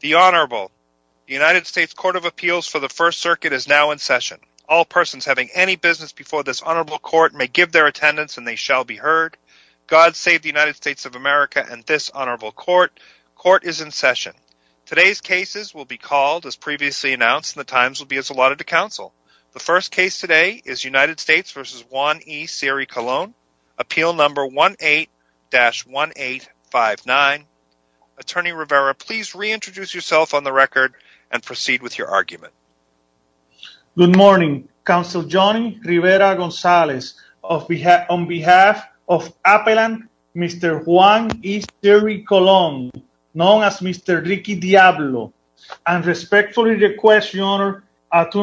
The Honorable, the United States Court of Appeals for the First Circuit is now in session. All persons having any business before this Honorable Court may give their attendance and they shall be heard. God save the United States of America and this Honorable Court. Court is in session. Today's cases will be called as previously announced and the times will be as allotted to counsel. The first case today is United States v. Juan E. Seary-Colon, appeal number 18-1859. Attorney Rivera, please reintroduce yourself on the record and proceed with your argument. Good morning. Counsel Johnny Rivera-Gonzalez. On behalf of Appellant, Mr. Juan E. Seary-Colon, known as Mr. Ricky Diablo, I respectfully request your Honor to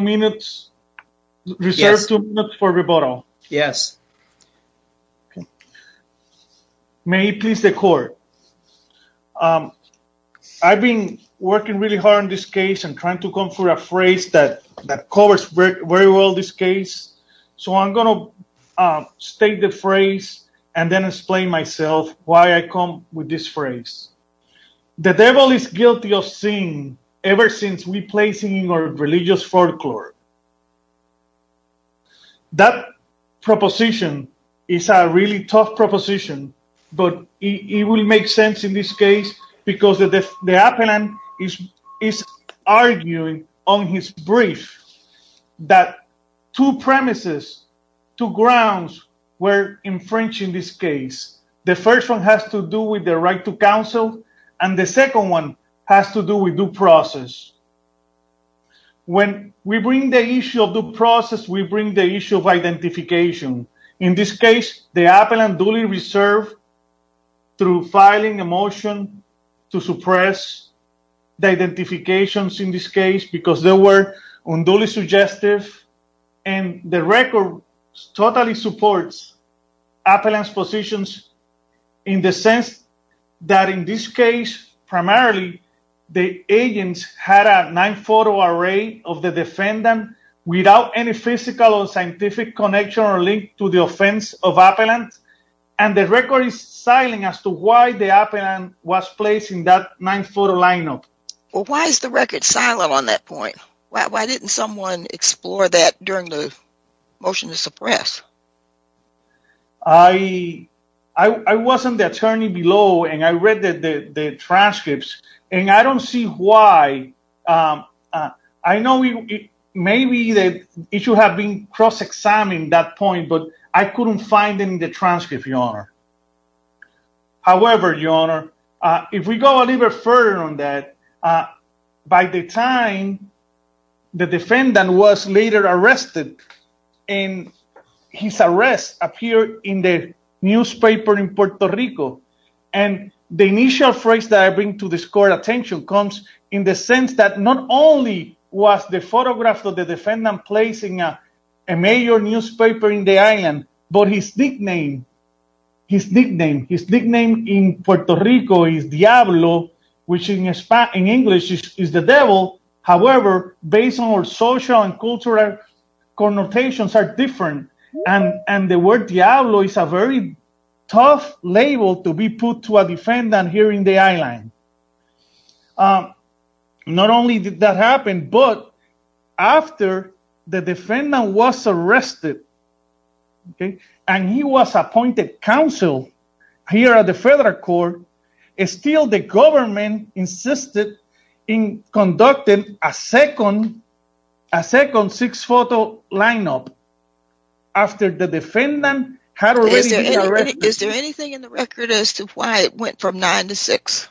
reserve two minutes for rebuttal. Yes. May it please the Court. I've been working really hard on this case and trying to come up with a phrase that covers very well this case. So I'm going to state the phrase and then explain myself why I come with this phrase. The devil is guilty of sin ever since we placed him in our religious folklore. That proposition is a really tough proposition, but it will make sense in this case because the Appellant is arguing on his brief that two premises, two grounds were infringing this case. The first one has to do with the right to counsel and the second one has to do with due process. When we bring the issue of due process, we bring the issue of identification. In this case, the Appellant duly reserved through filing a motion to suppress the identifications in this case because they were unduly suggestive. And the record totally supports Appellant's positions in the sense that in this case, primarily, the agents had a nine-photo array of the defendant without any physical or scientific connection or link to the offense of Appellant. And the record is silent as to why the Appellant was placed in that nine-photo lineup. Why is the record silent on that point? Why didn't someone explore that during the motion to suppress? I wasn't the attorney below and I read the transcripts and I don't see why. I know maybe the issue had been cross-examined at that point, but I couldn't find it in the transcript, Your Honor. However, Your Honor, if we go a little bit further on that, by the time the defendant was later arrested and his arrest appeared in the newspaper in Puerto Rico. And the initial phrase that I bring to this court attention comes in the sense that not only was the photograph of the defendant placed in a major newspaper in the island, but his nickname in Puerto Rico is Diablo, which in English is the devil. However, based on our social and cultural connotations are different. And the word Diablo is a very tough label to be put to a defendant here in the island. Not only did that happen, but after the defendant was arrested and he was appointed counsel here at the federal court, still the government insisted in conducting a second six-photo lineup after the defendant had already been arrested. Is there anything in the record as to why it went from nine to six?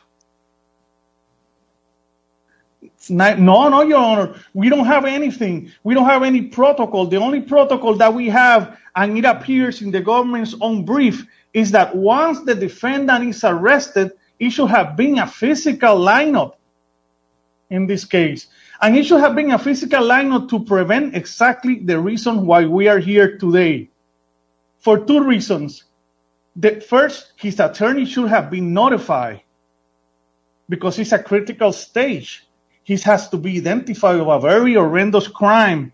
No, no, Your Honor. We don't have anything. We don't have any protocol. The only protocol that we have, and it appears in the government's own brief, is that once the defendant is arrested, it should have been a physical lineup in this case. And it should have been a physical lineup to prevent exactly the reason why we are here today. For two reasons. First, his attorney should have been notified because it's a critical stage. He has to be identified of a very horrendous crime,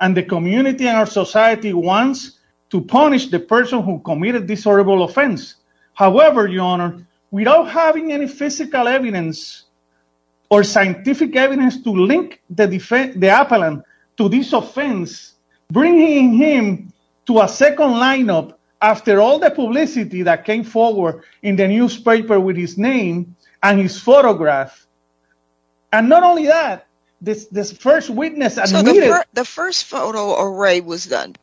and the community and our society wants to punish the person who committed this horrible offense. However, Your Honor, we don't have any physical evidence or scientific evidence to link the defendant to this offense, bringing him to a second lineup after all the publicity that came forward in the newspaper with his name and his photograph. And not only that, this first witness admitted... So the first photo array was done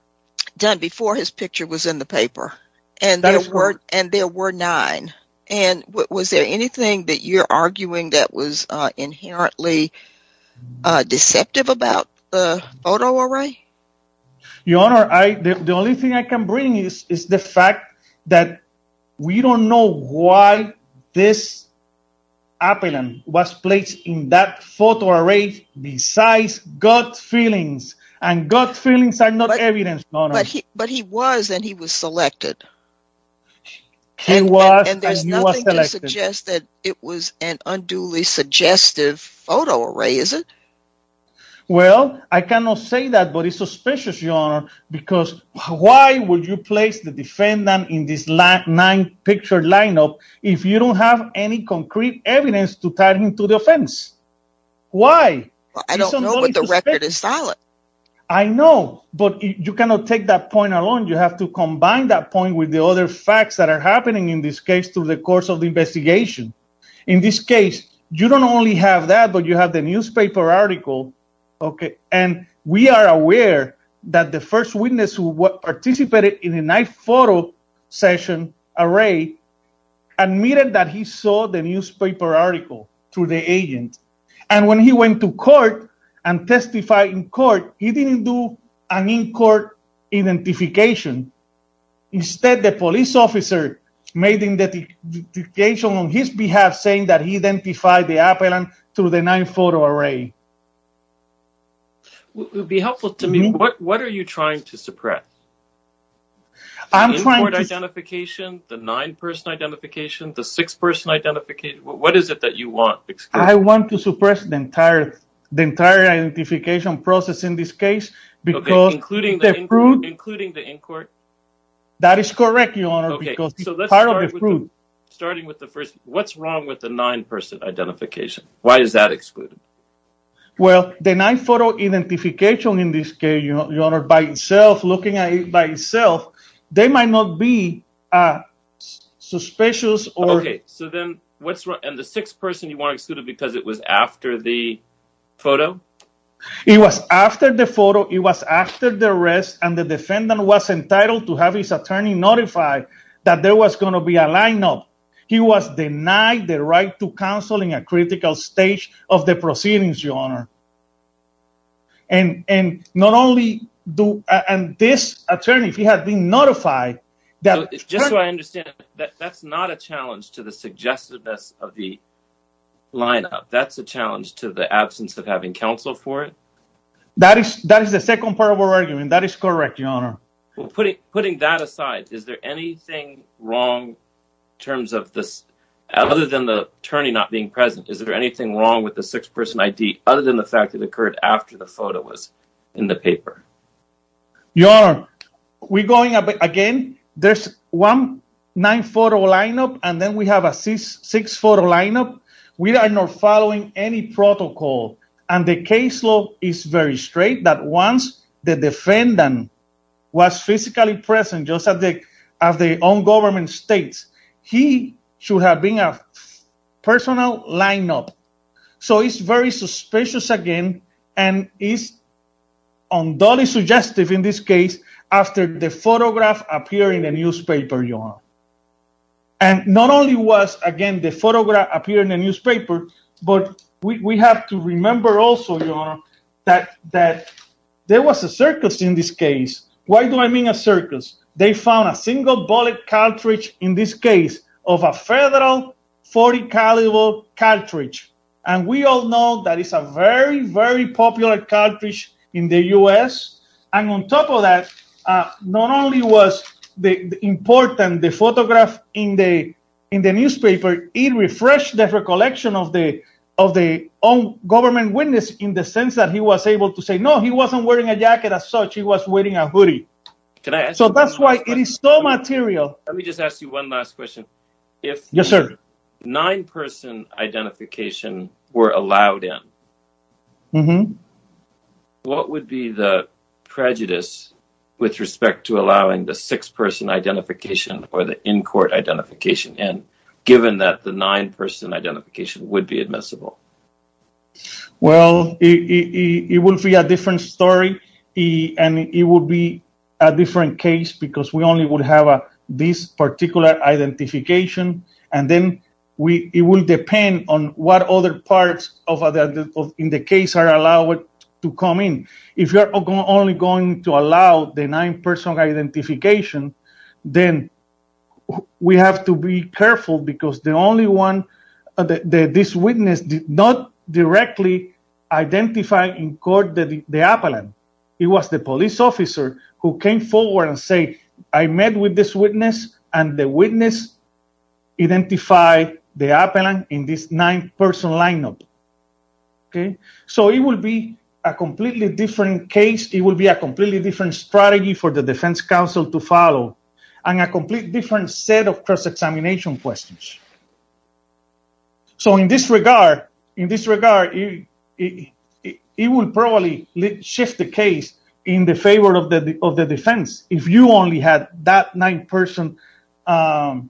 before his picture was in the paper, and there were nine. And was there anything that you're arguing that was inherently deceptive about the photo array? Your Honor, the only thing I can bring is the fact that we don't know why this appellant was placed in that photo array besides gut feelings. And gut feelings are not evidence, Your Honor. But he was, and he was selected. He was, and he was selected. And there's nothing to suggest that it was an unduly suggestive photo array, is it? Well, I cannot say that, but it's suspicious, Your Honor, because why would you place the defendant in this nine-picture lineup if you don't have any concrete evidence to tie him to the offense? Why? I don't know, but the record is solid. I know, but you cannot take that point alone. You have to combine that point with the other facts that are happening in this case through the course of the investigation. In this case, you don't only have that, but you have the newspaper article, okay? And we are aware that the first witness who participated in the nine-photo session array admitted that he saw the newspaper article through the agent. And when he went to court and testified in court, he didn't do an in-court identification. Instead, the police officer made an identification on his behalf, saying that he identified the appellant through the nine-photo array. It would be helpful to me. What are you trying to suppress? The in-court identification, the nine-person identification, the six-person identification. What is it that you want? I want to suppress the entire identification process in this case. Including the in-court? That is correct, Your Honor, because it's part of the proof. Starting with the first, what's wrong with the nine-person identification? Why is that excluded? Well, the nine-photo identification in this case, Your Honor, by itself, looking at it by itself, they might not be suspicious. Okay, so then what's wrong? And the six-person, you want to exclude it because it was after the photo? It was after the photo. It was after the arrest, and the defendant was entitled to have his attorney notify that there was going to be a lineup. He was denied the right to counsel in a critical stage of the proceedings, Your Honor. And not only do—and this attorney, he had been notified that— That is the second part of our argument. That is correct, Your Honor. Well, putting that aside, is there anything wrong in terms of this, other than the attorney not being present, is there anything wrong with the six-person ID other than the fact that it occurred after the photo was in the paper? Your Honor, we're going again. There's one nine-photo lineup, and then we have a six-photo lineup. We are not following any protocol, and the case law is very straight, that once the defendant was physically present, just as the on-government states, he should have been a personal lineup. So it's very suspicious again, and it's undoubtedly suggestive in this case, after the photograph appeared in the newspaper, Your Honor. And not only was, again, the photograph appeared in the newspaper, but we have to remember also, Your Honor, that there was a circus in this case. Why do I mean a circus? They found a single-bullet cartridge in this case of a Federal .40-caliber cartridge. And we all know that it's a very, very popular cartridge in the U.S. And on top of that, not only was the important photograph in the newspaper, it refreshed the recollection of the on-government witness in the sense that he was able to say, no, he wasn't wearing a jacket as such. He was wearing a hoodie. So that's why it is so material. Let me just ask you one last question. Yes, sir. If nine-person identification were allowed in, what would be the prejudice with respect to allowing the six-person identification or the in-court identification in, given that the nine-person identification would be admissible? Well, it would be a different story, and it would be a different case because we only would have this particular identification, and then it would depend on what other parts in the case are allowed to come in. If you're only going to allow the nine-person identification, then we have to be careful because the only one, this witness did not directly identify in court the appellant. It was the police officer who came forward and said, I met with this witness, and the witness identified the appellant in this nine-person lineup. So it would be a completely different case. It would be a completely different strategy for the defense counsel to follow and a completely different set of cross-examination questions. So in this regard, it would probably shift the case in the favor of the defense if you only had that nine-person lineup.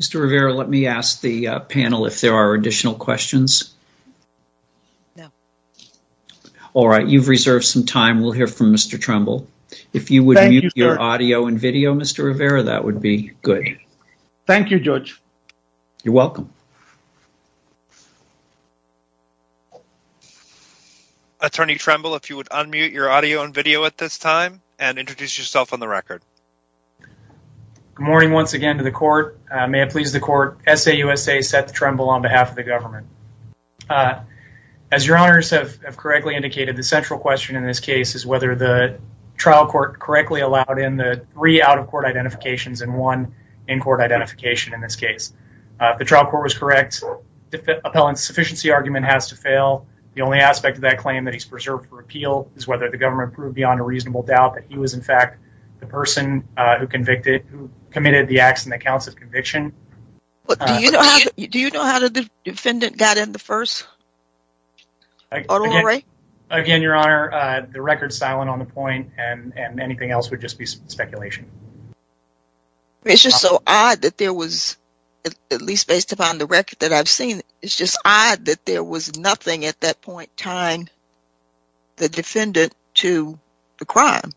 Mr. Rivera, let me ask the panel if there are additional questions. No. All right, you've reserved some time. We'll hear from Mr. Trumbull. Thank you, sir. Mr. Rivera, that would be good. Thank you, Judge. You're welcome. Attorney Trumbull, if you would unmute your audio and video at this time and introduce yourself on the record. Good morning once again to the court. May it please the court, SAUSA Seth Trumbull on behalf of the government. As your honors have correctly indicated, the central question in this case is whether the trial court correctly allowed in the three out-of-court identifications and one in-court identification in this case. If the trial court was correct, the appellant's sufficiency argument has to fail. The only aspect of that claim that he's preserved for appeal is whether the government proved beyond a reasonable doubt that he was, in fact, the person who committed the acts in the counts of conviction. Do you know how the defendant got in the first? Again, your honor, the record's silent on the point, and anything else would just be speculation. It's just so odd that there was, at least based upon the record that I've seen, it's just odd that there was nothing at that point tying the defendant to the crime.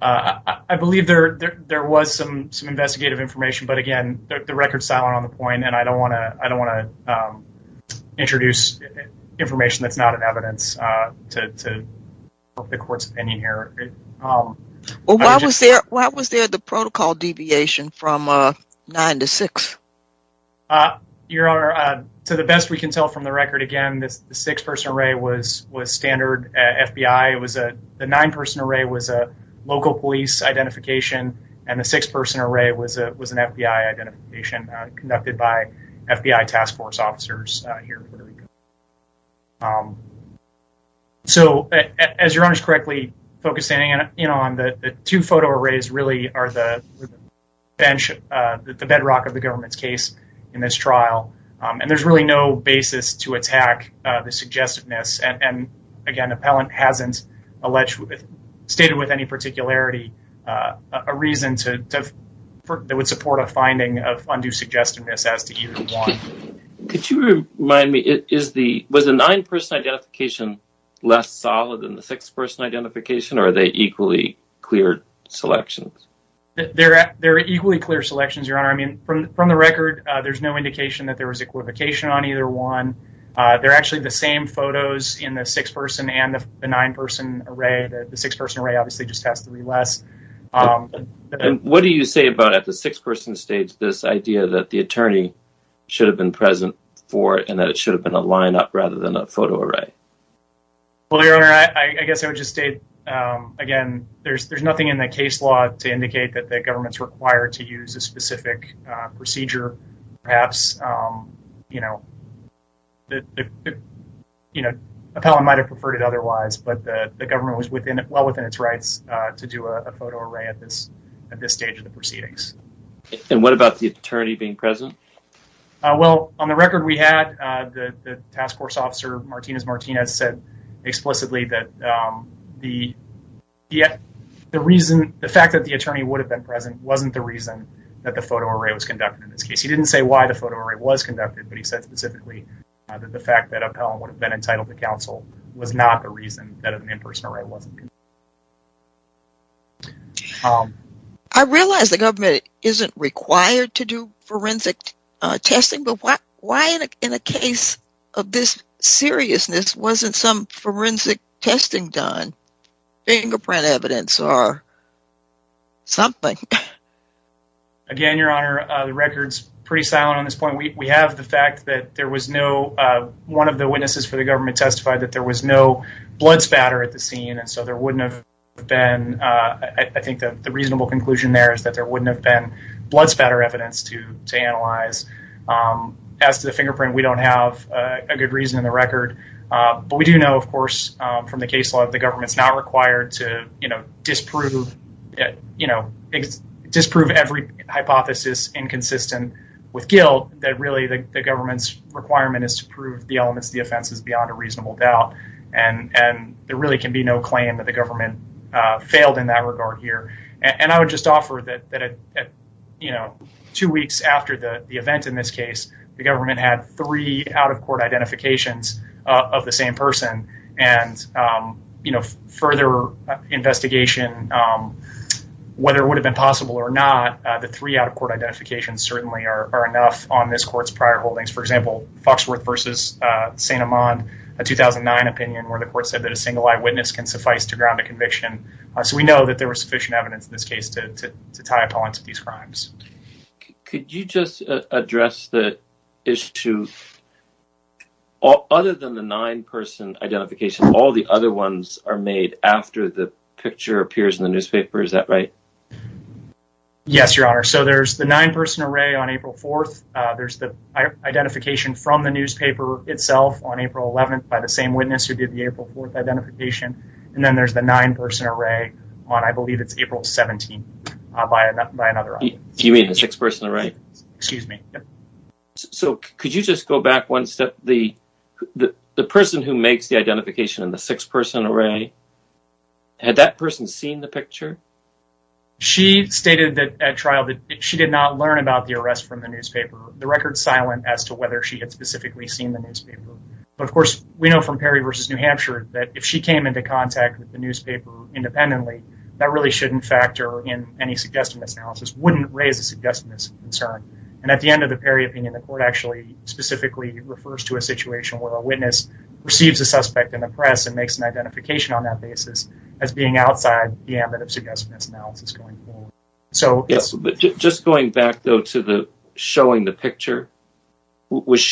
I believe there was some investigative information, but, again, the record's silent on the point, and I don't want to introduce information that's not in evidence to the court's opinion here. Why was there the protocol deviation from nine to six? Your honor, to the best we can tell from the record, again, the six-person array was standard FBI. The nine-person array was a local police identification, and the six-person array was an FBI identification conducted by FBI task force officers here in Puerto Rico. So, as your honor's correctly focusing in on, the two photo arrays really are the bedrock of the government's case in this trial, and there's really no basis to attack the suggestiveness, and, again, the appellant hasn't stated with any particularity a reason that would support a finding of undue suggestiveness as to either one. Could you remind me, was the nine-person identification less solid than the six-person identification, or are they equally clear selections? They're equally clear selections, your honor. I mean, from the record, there's no indication that there was equivocation on either one. They're actually the same photos in the six-person and the nine-person array. The six-person array obviously just has to be less. What do you say about at the six-person stage this idea that the attorney should have been present for it and that it should have been a lineup rather than a photo array? Well, your honor, I guess I would just state, again, there's nothing in the case law to indicate that the government's required to use a specific procedure. Perhaps, you know, the appellant might have preferred it otherwise, but the government was well within its rights to do a photo array at this stage of the proceedings. And what about the attorney being present? Well, on the record we had, the task force officer, Martinez-Martinez, said explicitly that the fact that the attorney would have been present wasn't the reason that the photo array was conducted in this case. He didn't say why the photo array was conducted, but he said specifically that the fact that appellant would have been entitled to counsel was not the reason that an in-person array wasn't conducted. I realize the government isn't required to do forensic testing, but why in a case of this seriousness wasn't some forensic testing done, fingerprint evidence, or something? Again, your honor, the record's pretty silent on this point. We have the fact that there was no, one of the witnesses for the government testified that there was no blood spatter at the scene, and so there wouldn't have been, I think the reasonable conclusion there is that there wouldn't have been blood spatter evidence to analyze. As to the fingerprint, we don't have a good reason in the record, but we do know, of course, from the case law, the government's not required to disprove every hypothesis inconsistent with guilt, that really the government's requirement is to prove the elements of the offense is beyond a reasonable doubt, and there really can be no claim that the government failed in that regard here. I would just offer that two weeks after the event in this case, the government had three out-of-court identifications of the same person, and further investigation, whether it would have been possible or not, the three out-of-court identifications certainly are enough on this court's prior holdings. For example, Foxworth v. St. Amand, a 2009 opinion where the court said that a single eyewitness can suffice to ground a conviction, so we know that there was sufficient evidence in this case to tie a point to these crimes. Could you just address the issue? Other than the nine-person identification, all the other ones are made after the picture appears in the newspaper. Is that right? Yes, Your Honor. So there's the nine-person array on April 4th. There's the identification from the newspaper itself on April 11th by the same witness who did the April 4th identification, and then there's the nine-person array on, I believe, it's April 17th by another eyewitness. You mean the six-person array? Excuse me. So could you just go back one step? The person who makes the identification in the six-person array, had that person seen the picture? She stated at trial that she did not learn about the arrest from the newspaper. The record's silent as to whether she had specifically seen the newspaper. But, of course, we know from Perry v. New Hampshire that if she came into contact with the newspaper independently, that really shouldn't factor in any suggestiveness analysis, wouldn't raise a suggestiveness concern. And at the end of the Perry opinion, the court actually specifically refers to a situation where a witness receives a suspect in the press and makes an identification on that basis as being outside the ambit of suggestiveness analysis going forward. Just going back, though, to showing the picture, when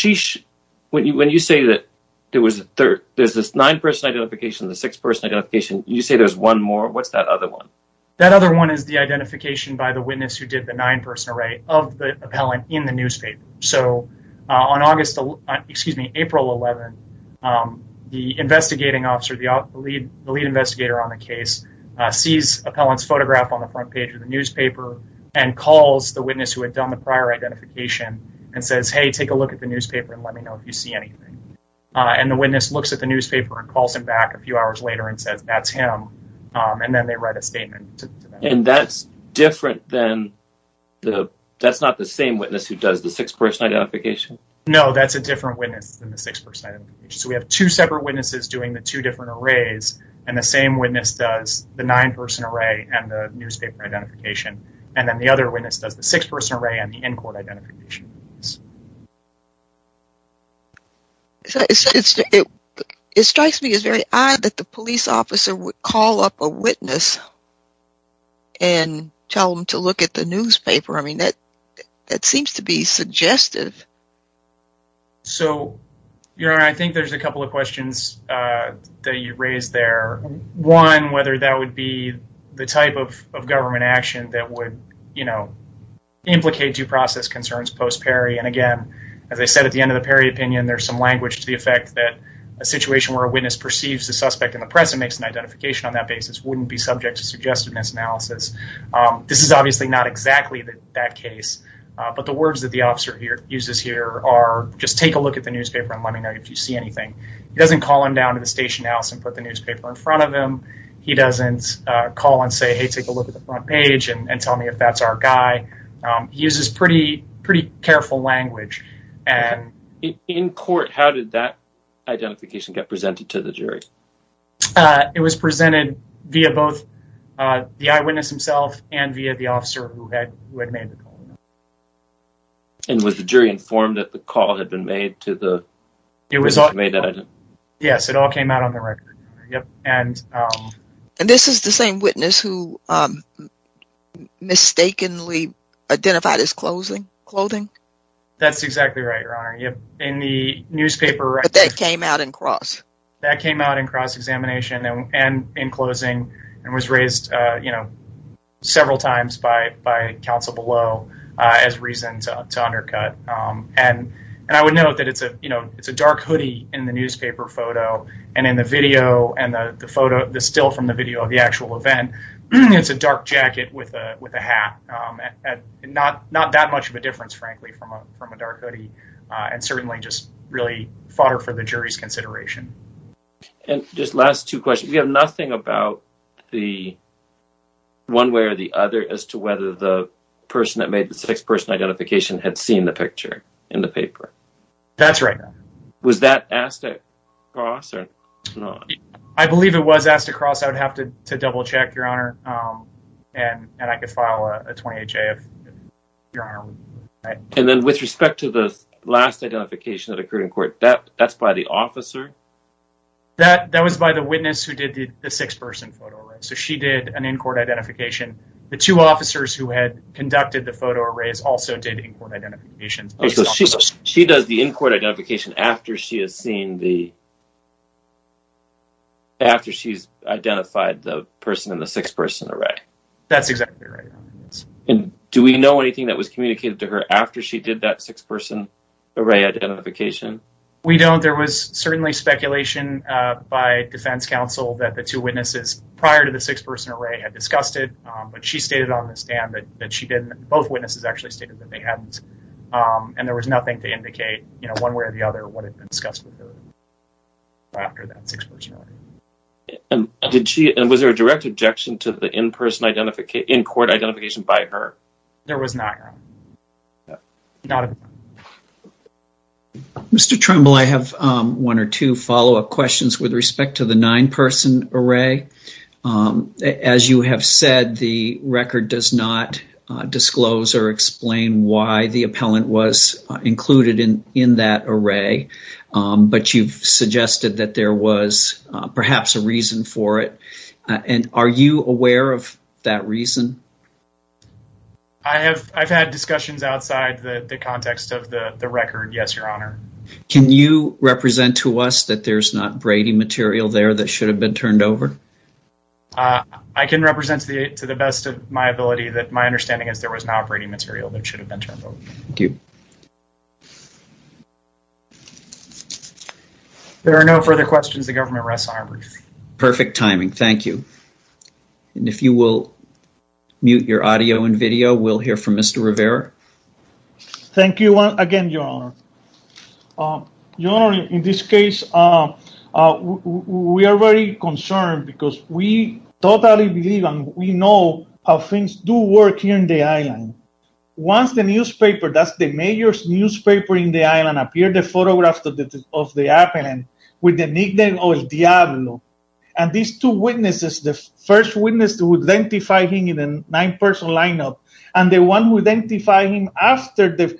you say that there's this nine-person identification and the six-person identification, you say there's one more. What's that other one? That other one is the identification by the witness who did the nine-person array of the appellant in the newspaper. So on April 11th, the investigating officer, the lead investigator on the case, sees appellant's photograph on the front page of the newspaper and calls the witness who had done the prior identification and says, Hey, take a look at the newspaper and let me know if you see anything. And the witness looks at the newspaper and calls him back a few hours later and says, That's him. And then they write a statement. And that's different than, that's not the same witness who does the six-person identification? No, that's a different witness than the six-person identification. So we have two separate witnesses doing the two different arrays, and the same witness does the nine-person array and the newspaper identification, and then the other witness does the six-person array and the in-court identification. It strikes me as very odd that the police officer would call up a witness and tell them to look at the newspaper. I mean, that seems to be suggestive. So, Your Honor, I think there's a couple of questions that you raised there. One, whether that would be the type of government action that would, you know, implicate due process concerns post-Perry. And, again, as I said at the end of the Perry opinion, there's some language to the effect that a situation where a witness perceives the suspect in the press and makes an identification on that basis wouldn't be subject to suggestiveness analysis. This is obviously not exactly that case. But the words that the officer uses here are, just take a look at the newspaper and let me know if you see anything. He doesn't call him down to the station house and put the newspaper in front of him. He doesn't call and say, hey, take a look at the front page and tell me if that's our guy. He uses pretty careful language. In court, how did that identification get presented to the jury? It was presented via both the eyewitness himself and via the officer who had made the call. And was the jury informed that the call had been made to the person who made that identification? Yes, it all came out on the record. And this is the same witness who mistakenly identified his clothing? That's exactly right, Your Honor. But that came out in cross? That came out in cross-examination and in closing. And was raised several times by counsel below as reason to undercut. And I would note that it's a dark hoodie in the newspaper photo. And in the video and the still from the video of the actual event, it's a dark jacket with a hat. Not that much of a difference, frankly, from a dark hoodie. And certainly just really fodder for the jury's consideration. And just last two questions. We have nothing about the one way or the other as to whether the person that made the six person identification had seen the picture in the paper. That's right. Was that asked to cross or not? I believe it was asked to cross. I would have to double check, Your Honor. And I could file a 20HA if Your Honor would like. And then with respect to the last identification that occurred in court, that's by the officer? That was by the witness who did the six person photo. So she did an in-court identification. The two officers who had conducted the photo arrays also did in-court identifications. She does the in-court identification after she has seen the. After she's identified the person in the six person array. That's exactly right. Do we know anything that was communicated to her after she did that six person array identification? We don't. There was certainly speculation by defense counsel that the two witnesses prior to the six person array had discussed it. But she stated on the stand that she didn't. Both witnesses actually stated that they hadn't. And there was nothing to indicate one way or the other what had been discussed with her after that six person array. And was there a direct objection to the in-person identification, in-court identification by her? There was not, Your Honor. Mr. Trimble, I have one or two follow-up questions with respect to the nine person array. As you have said, the record does not disclose or explain why the appellant was included in that array. But you've suggested that there was perhaps a reason for it. And are you aware of that reason? I've had discussions outside the context of the record, yes, Your Honor. Can you represent to us that there's not braiding material there that should have been turned over? I can represent to the best of my ability that my understanding is there was not braiding material that should have been turned over. Thank you. There are no further questions. The government rests on her. Perfect timing. Thank you. And if you will mute your audio and video, we'll hear from Mr. Rivera. Thank you again, Your Honor. Your Honor, in this case, we are very concerned because we totally believe and we know how things do work here in the island. Once the newspaper, that's the major newspaper in the island, appeared the photographs of the appellant with the nickname El Diablo. And these two witnesses, the first witness who identified him in a nine-person lineup and the one who identified him after the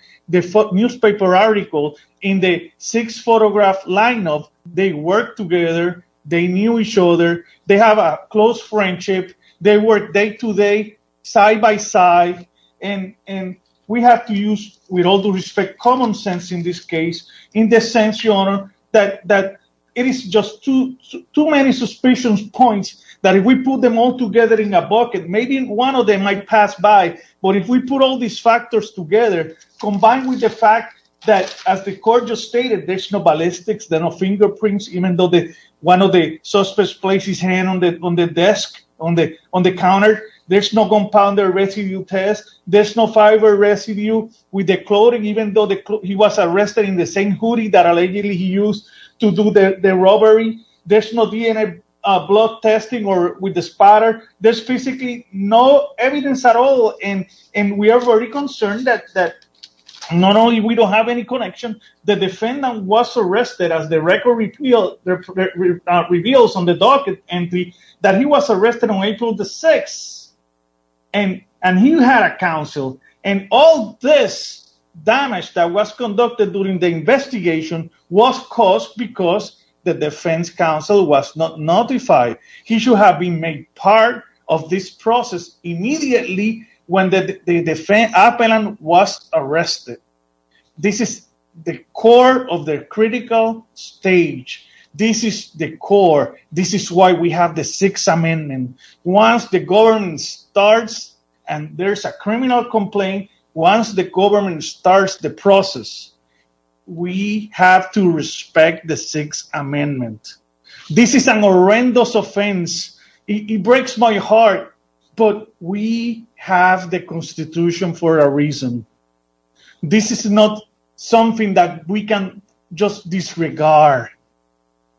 newspaper article in the six-photograph lineup, they worked together. They knew each other. They have a close friendship. They work day to day, side by side. And we have to use, with all due respect, common sense in this case in the sense, Your Honor, that it is just too many suspicion points that if we put them all together in a bucket, maybe one of them might pass by. But if we put all these factors together, combined with the fact that, as the court just stated, there's no ballistics, there's no fingerprints, even though one of the suspects placed his hand on the desk, on the counter. There's no gunpowder residue test. There's no fiber residue with the clothing, even though he was arrested in the same hoodie that allegedly he used to do the robbery. There's no DNA blood testing with the spotter. There's physically no evidence at all. And we are very concerned that not only we don't have any connection, the defendant was arrested, as the record reveals on the docket entry, that he was arrested on April the 6th. And he had a counsel. And all this damage that was conducted during the investigation was caused because the defense counsel was not notified. He should have been made part of this process immediately when the defendant was arrested. This is the core of the critical stage. This is the core. Once the government starts, and there's a criminal complaint, once the government starts the process, we have to respect the Sixth Amendment. This is a horrendous offense. It breaks my heart. But we have the Constitution for a reason. This is not something that we can just disregard.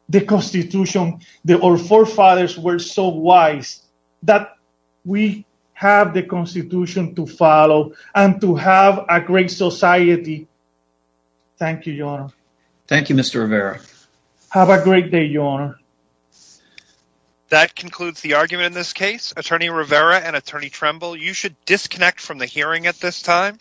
The Constitution, our forefathers were so wise that we have the Constitution to follow and to have a great society. Thank you, Your Honor. Thank you, Mr. Rivera. Have a great day, Your Honor. That concludes the argument in this case. Attorney Rivera and Attorney Tremble, you should disconnect from the hearing at this time.